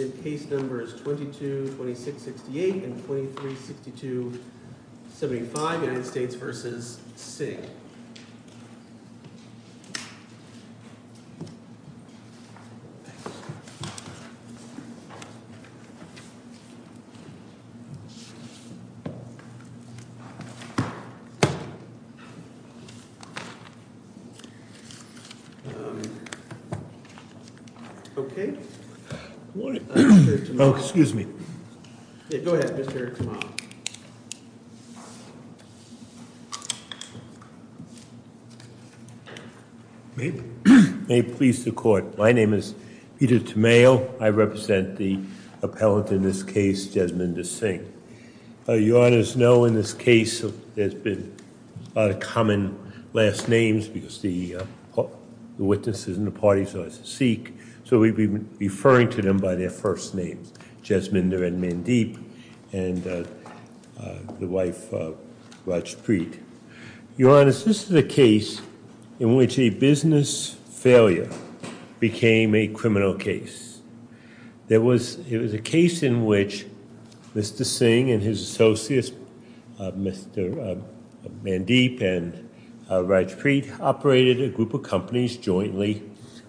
Case Numbers 22-26-68 and 23-62-75 United States v. Singh Case Numbers 22-26-68 and 23-62-75 United States v. Singh Case Numbers 22-26-68 and 23-62-75 United States v. Singh Case Numbers 22-26-68 and 23-62-75 United States v. Singh Mr. Singh and his associates, Mr. Mandeep and Rajpreet, operated a group of companies jointly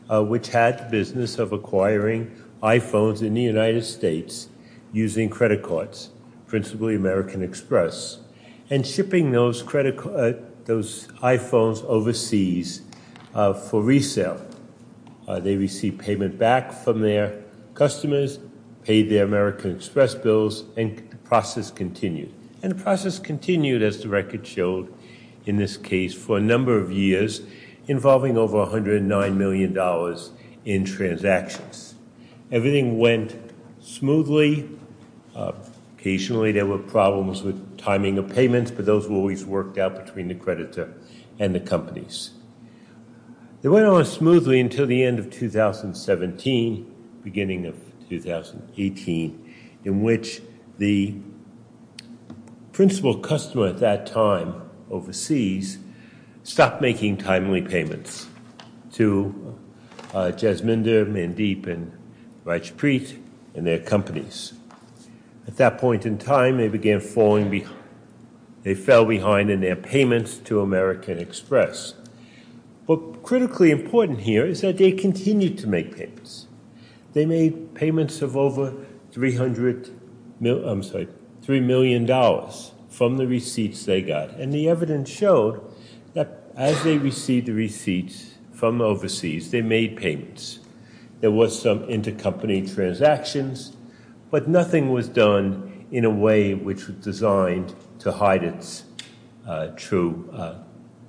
which had the business of acquiring iPhones in the United States using credit cards, principally American Express, and shipping those iPhones overseas for resale. They received payment back from their customers, paid their American Express bills, and the process continued. And the process continued, as the record showed in this case, for a number of years involving over $109 million in transactions. Everything went smoothly. Occasionally, there were problems with timing of payments, but those were always worked out between the creditor and the companies. They went on smoothly until the end of 2017, beginning of 2018, in which the principal customer at that time overseas stopped making timely payments to Jasminder, Mandeep, and Rajpreet and their companies. At that point in time, they began falling behind. They fell behind. What's critically important here is that they continued to make payments. They made payments of over $3 million from the receipts they got. And the evidence showed that as they received the receipts from overseas, they made payments. There was some intercompany transactions, but nothing was done in a way which was designed to hide its true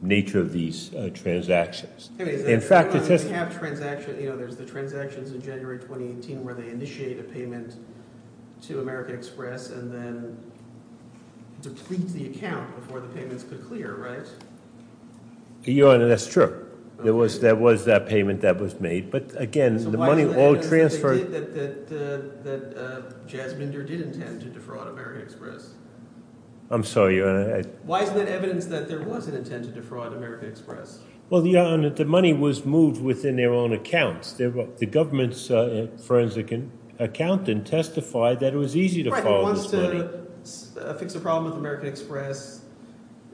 nature of these transactions. There's the transactions in January 2018 where they initiated a payment to American Express and then depleted the account before the payments could clear, right? Your Honor, that's true. There was that payment that was made, but again, the money all transferred... So why isn't there evidence that Jasminder did intend to defraud American Express? I'm sorry, Your Honor. Why isn't there evidence that there was an intent to defraud American Express? Well, Your Honor, the money was moved within their own accounts. The government's forensic accountant testified that it was easy to follow this money. Right, he wants to fix a problem with American Express.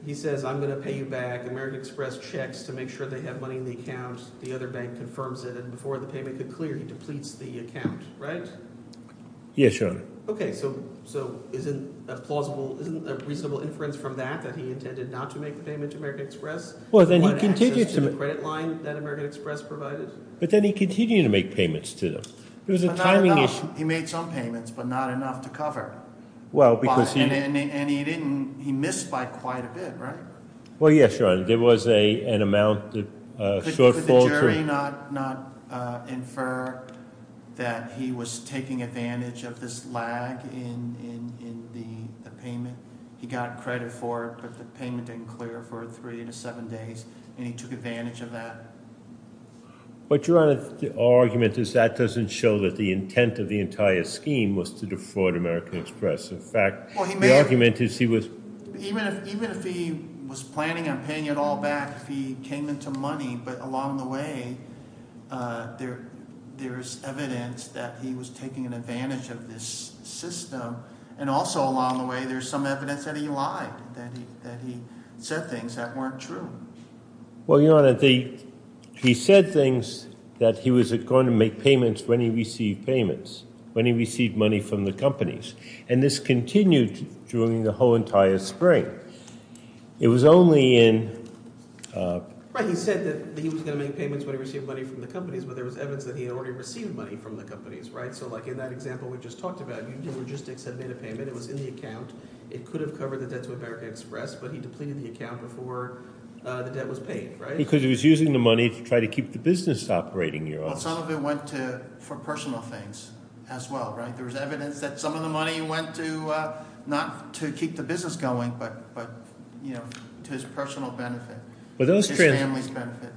He says, I'm going to pay you back. American Express checks to make sure they have money in the account. The other bank confirms it, and before the payment could clear, he depletes the account, right? Yes, Your Honor. Okay, so isn't a plausible, isn't a reasonable inference from that that he intended not to make the payment to American Express? Well, then he continued to... He had access to the credit line that American Express provided? But then he continued to make payments to them. It was a timing issue. He made some payments, but not enough to cover. Well, because he... And he didn't, he missed by quite a bit, right? Well, yes, Your Honor. There was an amount that shortfalled... ...not infer that he was taking advantage of this lag in the payment. He got credit for it, but the payment didn't clear for three to seven days, and he took advantage of that. But, Your Honor, the argument is that doesn't show that the intent of the entire scheme was to defraud American Express. In fact, the argument is he was... Even if he was planning on paying it all back, if he came into money, but along the way, there's evidence that he was taking advantage of this system. And also along the way, there's some evidence that he lied, that he said things that weren't true. Well, Your Honor, he said things that he was going to make payments when he received payments, when he received money from the companies. And this continued during the whole entire spring. It was only in... Right. He said that he was going to make payments when he received money from the companies, but there was evidence that he had already received money from the companies, right? So, like in that example we just talked about, logistics had made a payment. It was in the account. It could have covered the debt to American Express, but he depleted the account before the debt was paid, right? Because he was using the money to try to keep the business operating, Your Honor. Some of it went for personal things as well, right? There was evidence that some of the money went to, not to keep the business going, but to his personal benefit, to his family's benefit.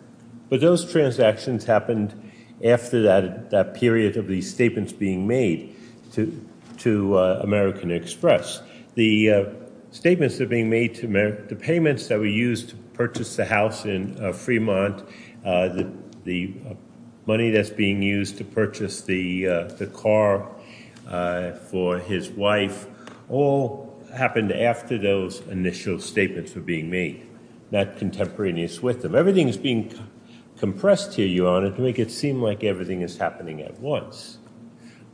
But those transactions happened after that period of these statements being made to American Express. The statements that are being made to America, the payments that were used to purchase the house in Fremont, the money that's being used to purchase the car for his wife, all happened after those initial statements were being made, not contemporaneous with them. Everything is being compressed here, Your Honor, to make it seem like everything is happening at once.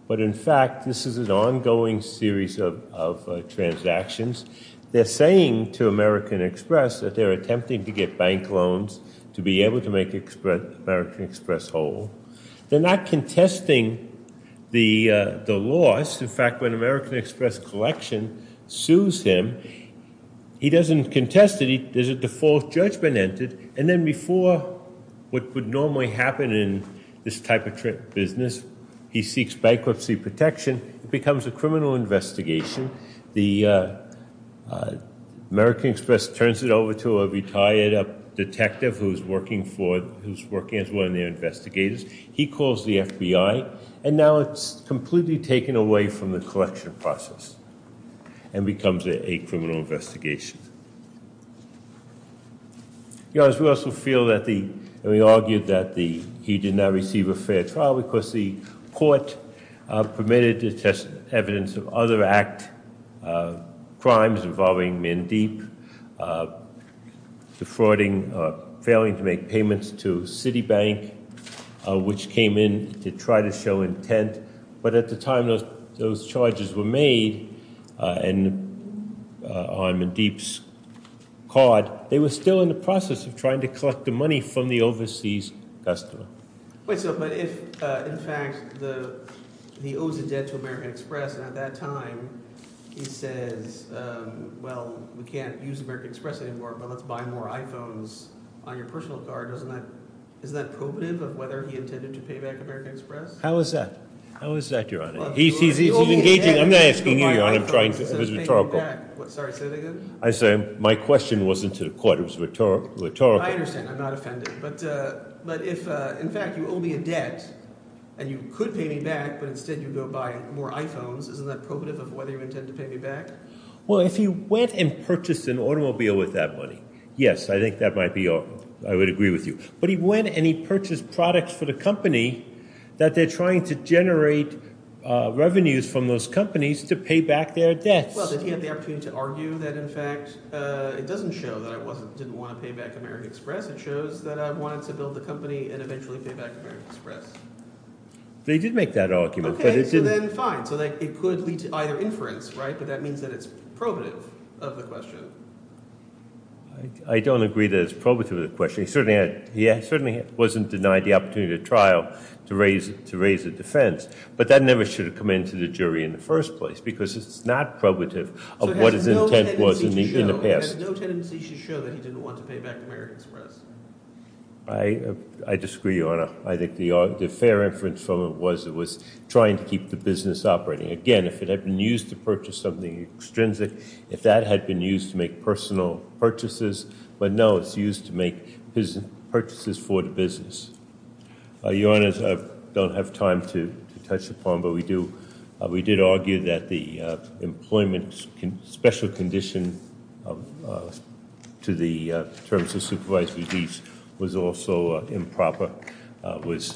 But in fact, this is an ongoing series of transactions. They're saying to American Express that they're attempting to get bank loans to be able to make American Express whole. They're not contesting the loss. In fact, when American Express collection sues him, he doesn't contest it. There's a default judgment entered. And then before what would normally happen in this type of business, he seeks bankruptcy protection. It becomes a criminal investigation. The American Express turns it over to a retired detective who's working as one of their investigators. He calls the FBI. And now it's completely taken away from the collection process and becomes a criminal investigation. Your Honor, we also feel that the, and we argued that the, he did not receive a fair trial because the court permitted to test evidence of other act crimes involving Mandeep, defrauding, failing to make payments to Citibank, which came in to try to show intent. But at the time those charges were made on Mandeep's card, they were still in the process of trying to collect the money from the overseas customer. Wait, so, but if, in fact, the, he owes a debt to American Express and at that time he says, well, we can't use American Express anymore, but let's buy more iPhones on your personal card. Isn't that probative of whether he intended to pay back American Express? How is that? How is that, Your Honor? He's engaging, I'm not asking you, Your Honor, I'm trying to, it was rhetorical. Sorry, say that again? I said, my question wasn't to the court, it was rhetorical. I understand, I'm not offended, but if, in fact, you owe me a debt and you could pay me back, but instead you go buy more iPhones, isn't that probative of whether you intend to pay me back? Well, if he went and purchased an automobile with that money, yes, I think that might be, I would agree with you. But he went and he purchased products for the company that they're trying to generate revenues from those companies to pay back their debts. Well, did he have the opportunity to argue that, in fact, it doesn't show that I didn't want to pay back American Express, it shows that I wanted to build the company and eventually pay back American Express? They did make that argument. Okay, so then fine, so it could lead to either inference, right? But that means that it's probative of the question. I don't agree that it's probative of the question. He certainly wasn't denied the opportunity to trial to raise a defense, but that never should have come into the jury in the first place because it's not probative of what his intent was in the past. So it has no tendency to show that he didn't want to pay back American Express? I disagree, Your Honor. I think the fair inference from it was it was trying to keep the business operating. Again, if it had been used to purchase something extrinsic, if that had been used to make personal purchases, but no, it's used to make purchases for the business. Your Honors, I don't have time to touch upon, but we did argue that the employment special condition to the terms of supervised release was also improper, was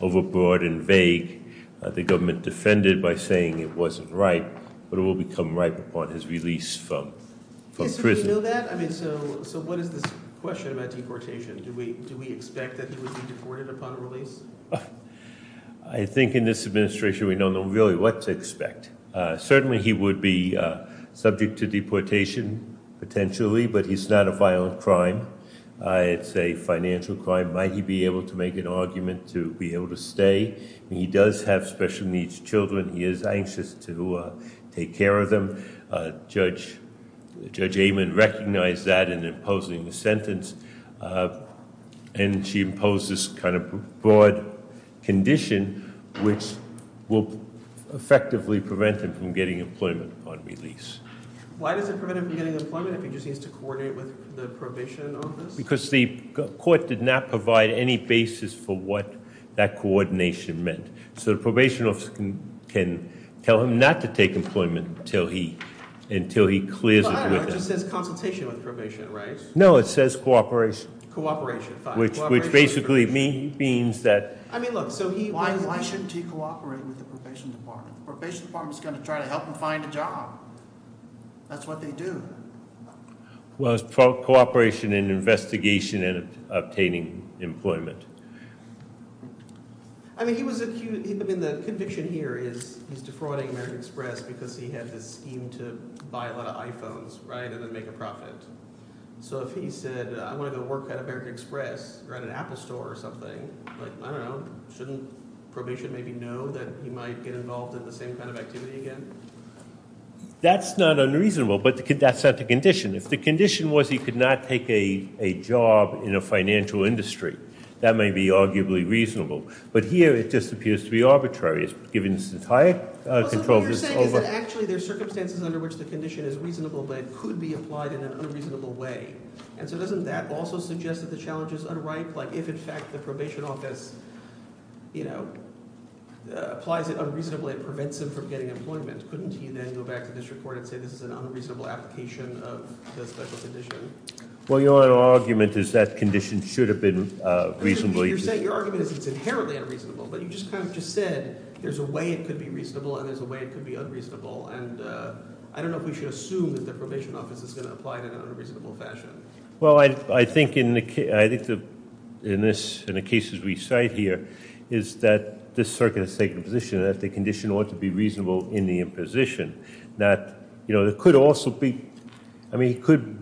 overbroad and vague. The government defended by saying it wasn't right, but it will become right upon his release from prison. Yes, we know that. I mean, so what is this question about deportation? Do we expect that he would be deported upon release? I think in this administration, we don't know really what to expect. Certainly, he would be subject to deportation potentially, but he's not a violent crime. It's a financial crime. Might he be able to make an argument to be able to stay? He does have special needs children. He is anxious to take care of them. Judge Amen recognized that in imposing the sentence, and she imposed this broad condition, which will effectively prevent him from getting employment upon release. Why does it prevent him from getting employment if he just needs to coordinate with the probation office? Because the court did not provide any basis for what that coordination meant. So, the probation office can tell him not to take employment until he clears it. It just says consultation with probation, right? No, it says cooperation. Cooperation. Which basically means that... I mean, look, so why shouldn't he cooperate with the probation department? The probation department is going to try to help him find a job. That's what they do. Well, it's cooperation and investigation and obtaining employment. I mean, the conviction here is he's defrauding American Express because he had this scheme to buy a lot of iPhones, right, and then make a profit. So, if he said, I want to go work at American Express or at an Apple store or something, like, I don't know, shouldn't probation maybe know that he might get involved in the same kind of activity again? That's not unreasonable, but that's not the condition. If the condition was he could not take a job in a financial industry, that may be arguably reasonable. But here, it just appears to be arbitrary. It's given this entire control... So, what you're saying is that actually there's circumstances under which the condition is reasonable, but it could be applied in an unreasonable way. And so, doesn't that also suggest that the challenge is unripe? Like, if, in fact, the probation office, you know, applies it unreasonably, it prevents him from getting employment. Couldn't he then go back to district court and say this is an unreasonable application of the special condition? Well, your argument is that condition should have been reasonable. You're saying your argument is it's inherently unreasonable, but you just kind of just said there's a way it could be reasonable and there's a way it could be unreasonable. And I don't know if we should assume that the probation office is going to apply it in an unreasonable fashion. Well, I think in the case... I think in the cases we cite here is that this circuit has taken a position that the condition ought to be reasonable in the imposition. That, you know, there could also be... I mean, he could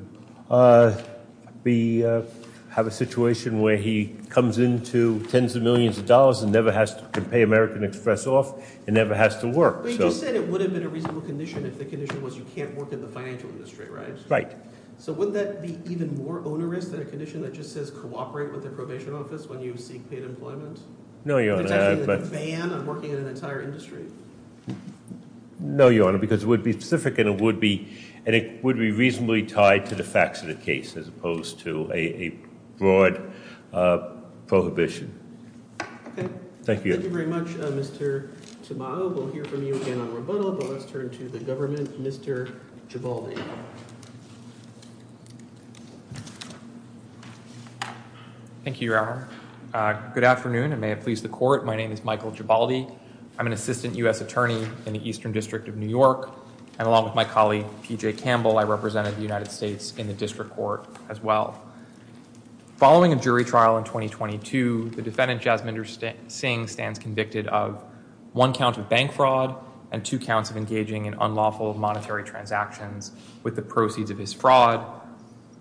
have a situation where he comes into tens of millions of dollars and never has to pay American Express off and never has to work. You said it would have been a reasonable condition if the condition was you can't work in the financial industry, right? Right. So wouldn't that be even more onerous than a condition that just says cooperate with the probation office when you seek paid employment? No, Your Honor. It's actually a ban on working in an entire industry. No, Your Honor, because it would be specific and it would be reasonably tied to the facts of the case as opposed to a broad prohibition. Okay. Thank you. Thank you very much, Mr. Tamayo. We'll hear from you again on rebuttal, but let's turn to the government, Mr. Gibaldi. Thank you, Your Honor. Good afternoon, and may it please the court. My name is Michael Gibaldi. I'm an assistant U.S. attorney in the Eastern District of New York, and along with my colleague P.J. Campbell, I represented the United States in the district court as well. Following a jury trial in 2022, the defendant Jasminder Singh stands convicted of one count of bank fraud and two counts of engaging in unlawful monetary transactions with the proceeds of his fraud.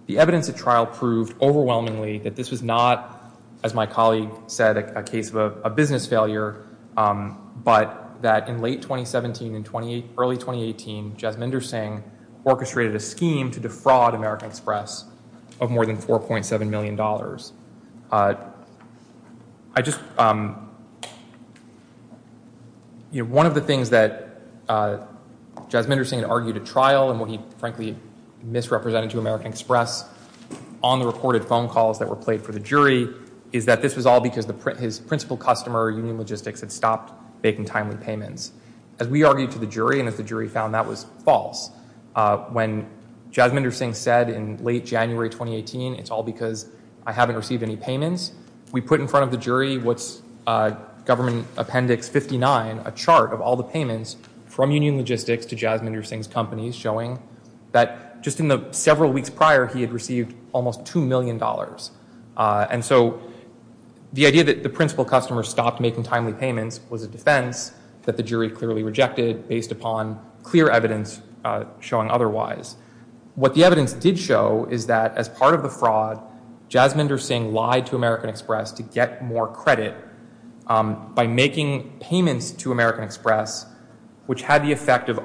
The evidence at trial proved overwhelmingly that this was not, as my colleague said, a case of a business failure, but that in late 2017 and early 2018, Jasminder Singh orchestrated a scheme to American Express of more than $4.7 million. One of the things that Jasminder Singh argued at trial, and what he frankly misrepresented to American Express on the reported phone calls that were played for the jury, is that this was all because his principal customer, Union Logistics, had stopped making timely payments. As we argued to the jury, and as the jury found, that was false. When Jasminder Singh said in late January 2018, it's all because I haven't received any payments, we put in front of the jury what's Government Appendix 59, a chart of all the payments from Union Logistics to Jasminder Singh's companies, showing that just in the several weeks prior, he had received almost $2 million. And so the idea that the principal customer stopped making payments was a defense that the jury clearly rejected based upon clear evidence showing otherwise. What the evidence did show is that as part of the fraud, Jasminder Singh lied to American Express to get more credit by making payments to American Express, which had the effect of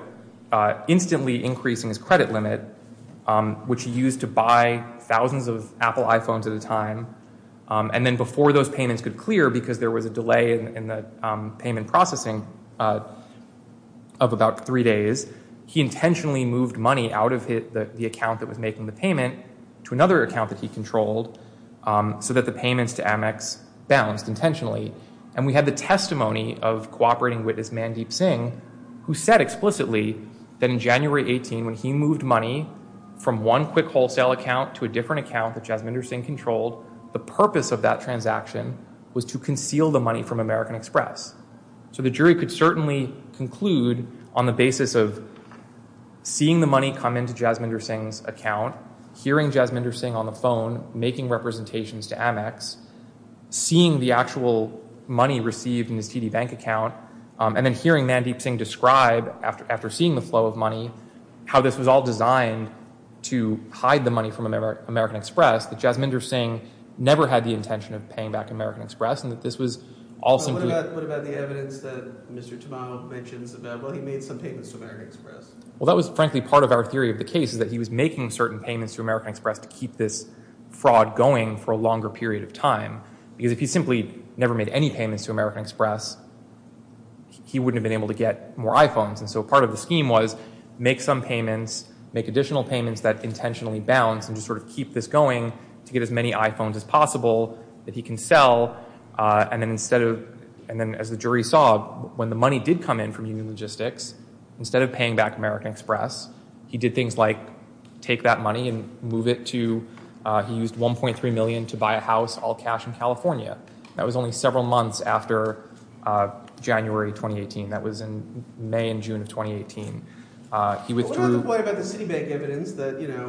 instantly increasing his credit limit, which he used to buy thousands of Apple iPhones at a time. And then before those payments could clear, because there was a delay in the payment processing of about three days, he intentionally moved money out of the account that was making the payment to another account that he controlled, so that the payments to Amex bounced intentionally. And we had the testimony of cooperating witness Mandeep Singh, who said explicitly that in January 18, when he moved money from one quick wholesale account to a different account that Jasminder Singh controlled, the purpose of that transaction was to conceal the money from American Express. So the jury could certainly conclude on the basis of seeing the money come into Jasminder Singh's account, hearing Jasminder Singh on the phone making representations to Amex, seeing the actual money received in his TD Bank account, and then hearing Mandeep Singh describe after seeing the flow of money, how this was all designed to hide the money from American Express, that Jasminder Singh never had the intention of paying back American Express, and that this was also... What about the evidence that Mr. Tamao mentions about, well, he made some payments to American Express? Well, that was frankly part of our theory of the case, is that he was making certain payments to American Express to keep this fraud going for a longer period of time. Because if he simply never made any payments to American Express, he wouldn't have been able to get more iPhones. And so part of the scheme was make some payments, make additional payments that intentionally bounce and just sort of keep this going to get as many iPhones as possible that he can sell. And then as the jury saw, when the money did come in from Union Logistics, instead of paying back American Express, he did things like take that money and move it to... He used $1.3 million to buy a house, all cash in California. That was only several months after January 2018. That was in May and June of 2018. He withdrew...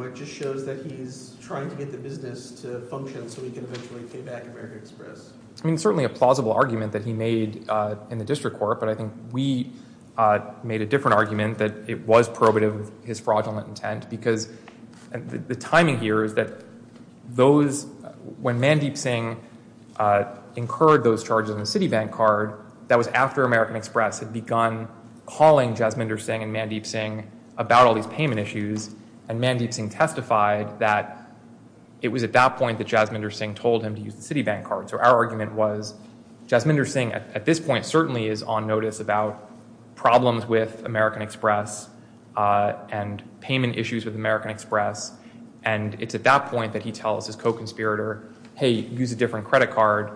It just shows that he's trying to get the business to function so he can eventually pay back American Express. I mean, certainly a plausible argument that he made in the district court, but I think we made a different argument that it was probative of his fraudulent intent. Because the timing here is that those... When Mandeep Singh incurred those charges on the Citibank card, that was after American Express had begun calling Jasminder Singh and Mandeep Singh testified that it was at that point that Jasminder Singh told him to use the Citibank card. So our argument was, Jasminder Singh at this point certainly is on notice about problems with American Express and payment issues with American Express. And it's at that point that he tells his co-conspirator, hey, use a different credit card,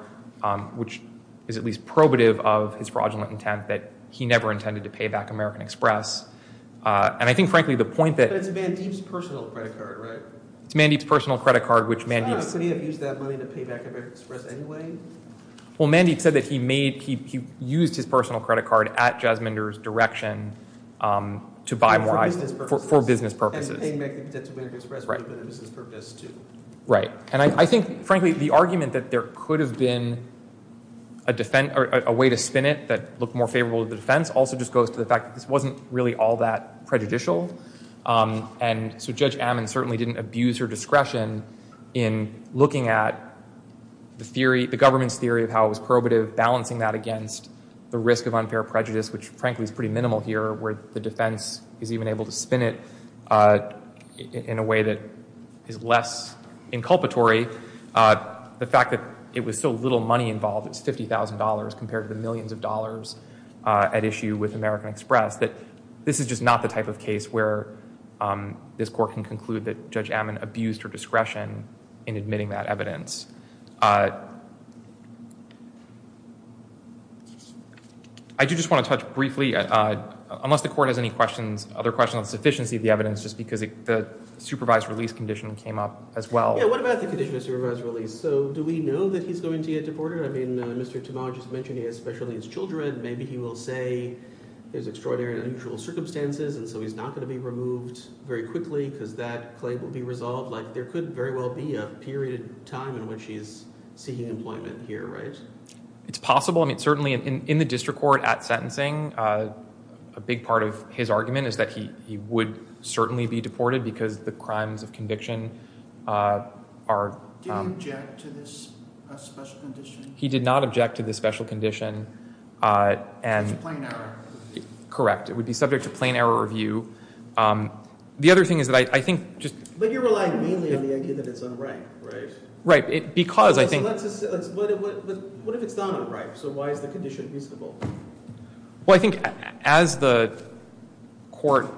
which is at least probative of his fraudulent intent that he never intended to pay back American Express. And I think, frankly, the point that... But it's Mandeep's personal credit card, right? It's Mandeep's personal credit card, which Mandeep... Could he have used that money to pay back American Express anyway? Well, Mandeep said that he made... He used his personal credit card at Jasminder's direction to buy more... For business purposes. For business purposes. And he paid back the debt to American Express for business purposes, too. Right. And I think, frankly, the argument that there could have been a way to spin it that looked more favorable to the defense also just goes to the fact that this wasn't really all that prejudicial. And so Judge Ammon certainly didn't abuse her discretion in looking at the theory, the government's theory of how it was probative, balancing that against the risk of unfair prejudice, which, frankly, is pretty minimal here where the defense is even able to spin it in a way that is less inculpatory. The fact that it was so little money involved, it's $50,000 compared to the millions of dollars at issue with American Express, that this is just not the type of case where this court can conclude that Judge Ammon abused her discretion in admitting that evidence. I do just want to touch briefly, unless the court has any questions, other questions on sufficiency of the evidence, just because the supervised release condition came up as well. Yeah. What about the condition of supervised release? So do we know that he's going to get he will say there's extraordinary and unusual circumstances and so he's not going to be removed very quickly because that claim will be resolved? Like there could very well be a period of time in which he's seeking employment here, right? It's possible. I mean, certainly in the district court at sentencing, a big part of his argument is that he would certainly be deported because the crimes of conviction are... Did he object to this special condition? He did not object to this special condition and... It's a plain error. Correct. It would be subject to plain error review. The other thing is that I think just... But you're relying mainly on the idea that it's unripe, right? Right. Because I think... What if it's not unripe? So why is the condition reasonable? Well, I think as the court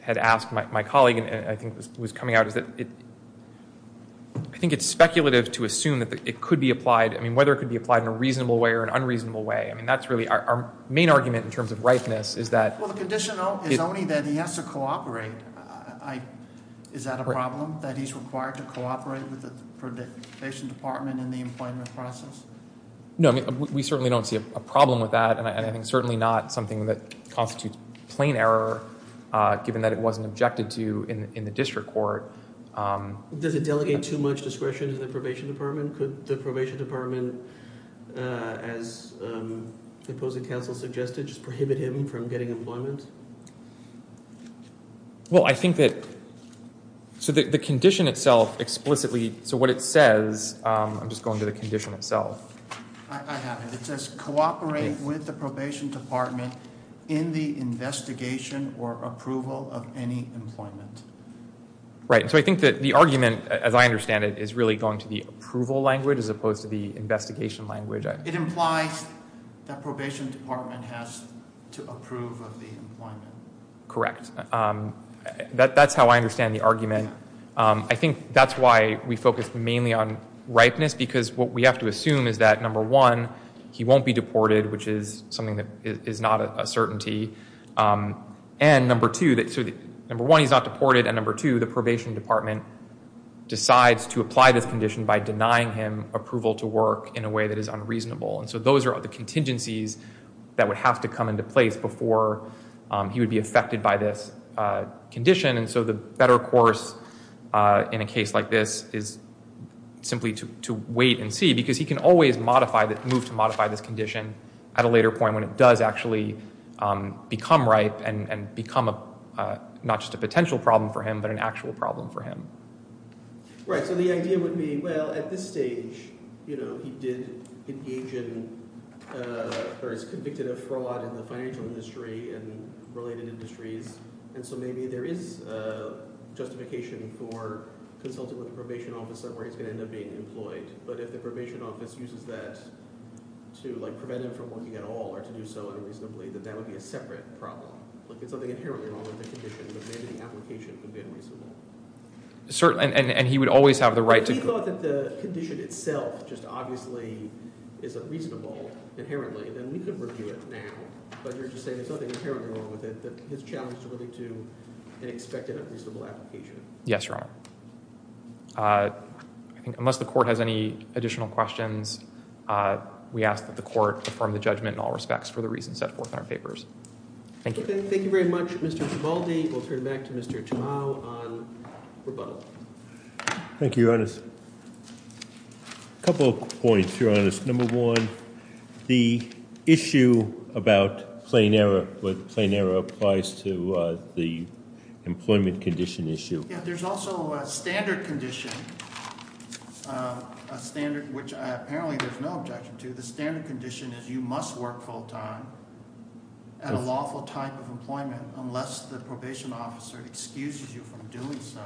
had asked my colleague and I think was coming out is that I think it's speculative to assume that it could be applied. I mean, whether it could be applied in a reasonable way or an unreasonable way. I mean, that's really our main argument in terms of ripeness is that... Well, the condition is only that he has to cooperate. Is that a problem? That he's required to cooperate with the probation department in the employment process? No, I mean, we certainly don't see a problem with that and I think certainly not something that constitutes plain error given that it wasn't objected to in the district court. Does it delegate too much discretion to the probation department? Could the probation department, as the opposing counsel suggested, just prohibit him from getting employment? Well, I think that... So the condition itself explicitly... So what it says... I'm just going to the condition itself. I have it. It says cooperate with the probation department in the investigation or approval of any employment. Right. So I think that the argument, as I understand it, is really going to the approval language as opposed to the investigation language. It implies that probation department has to approve of the employment. Correct. That's how I understand the argument. I think that's why we focus mainly on ripeness because what we have to assume is that, number one, he won't be deported, which is something that is not a certainty. And number two, that... So number one, he's not deported and number two, the probation department decides to apply this condition by denying him approval to work in a way that is unreasonable. And so those are the contingencies that would have to come into place before he would be affected by this condition. And so the better course in a case like this is simply to wait and see because he can always modify... move to modify this condition at a later point when it does actually become ripe and become not just a potential problem for him but an actual problem for him. Right. So the idea would be, well, at this stage, you know, he did engage in... or is convicted of fraud in the financial industry and related industries and so maybe there is a justification for consulting with the probation officer where he's going to end up being employed. But if the probation office uses that to, like, prevent him from working at all or to do so unreasonably, then that would be a separate problem. Like, there's something inherently wrong with the condition but maybe the application could be unreasonable. Certainly. And he would always have the right to... If he thought that the condition itself just obviously is unreasonable inherently, then we could review it now. But you're just saying there's something inherently wrong with it that his challenge is really to an expected unreasonable application. Yes, Your Honor. I think unless the court has any additional questions, we ask that the court affirm the judgment in all respects for the reasons set forth in our papers. Thank you. Thank you very much, Mr. Tribaldi. We'll turn back to Mr. Tumau on rebuttal. Thank you, Your Honors. A couple of points, Your Honors. Number one, the issue about plain error, what plain error applies to the employment condition issue. Yeah, there's also a standard condition, a standard which apparently there's no objection to. The standard condition is you must work full time at a lawful type of employment unless the probation officer excuses you from doing so.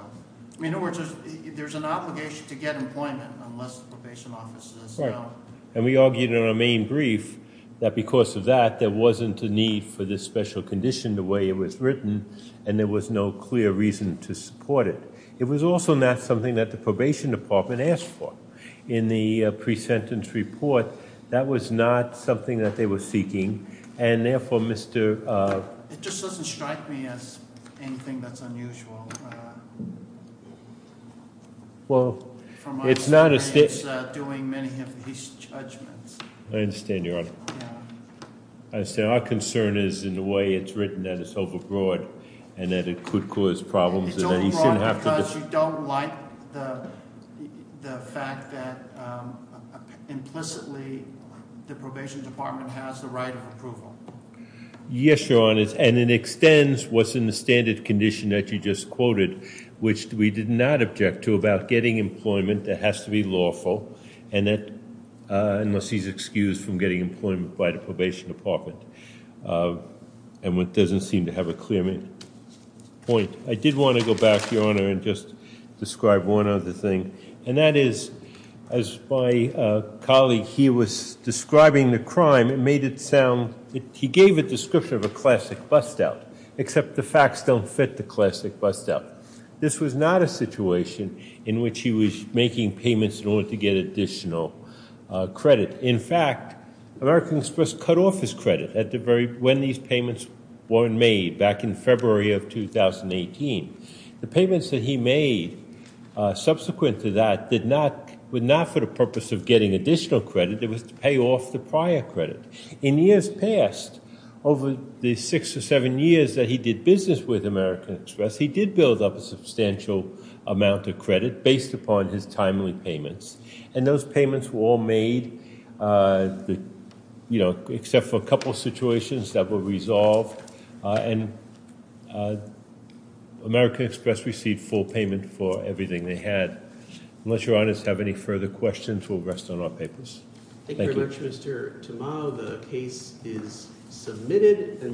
In other words, there's an obligation to get employment unless the probation officer says no. Right. And we argued in our main brief that because of that, there wasn't a need for this special condition the way it was written and there was no clear reason to support it. It was also not something that the probation department asked for in the pre-sentence report. That was not something that they were seeking and therefore, Mr. It just doesn't strike me as anything that's unusual. Well, it's not a... It's doing many of these judgments. I understand, Your Honor. I understand. Our concern is in the way it's written that it's overbroad and that it could cause problems. It's overbroad because you don't like the fact that implicitly the probation department has the right of approval. Yes, Your Honor, and it extends what's in the standard condition that you just quoted, which we did not object to about getting employment that has to be lawful and that unless he's excused from getting employment by the probation department and what doesn't seem to have a clear point. I did want to go back, Your Honor, and just describe one other thing and that is, as my colleague here was describing the crime, it made it sound... He gave a description of a classic bust-out, except the facts don't fit the classic bust-out. This was not a situation in which he was making payments in order to get additional credit. In fact, American Express cut off his credit at the very... When these payments were made back in February of 2018. The payments that he made subsequent to that did not... were not for the purpose of getting additional credit. It was to pay off the prior credit. In years past, over the six or seven years that he did business with American Express, he did build up a substantial amount of credit based upon his timely payments, and those payments were all made, you know, except for a couple situations that were resolved, and American Express received full payment for everything they had. Unless Your Honors have any further questions, we'll rest on our papers. Thank you very much, Mr. Tamao. The case is submitted.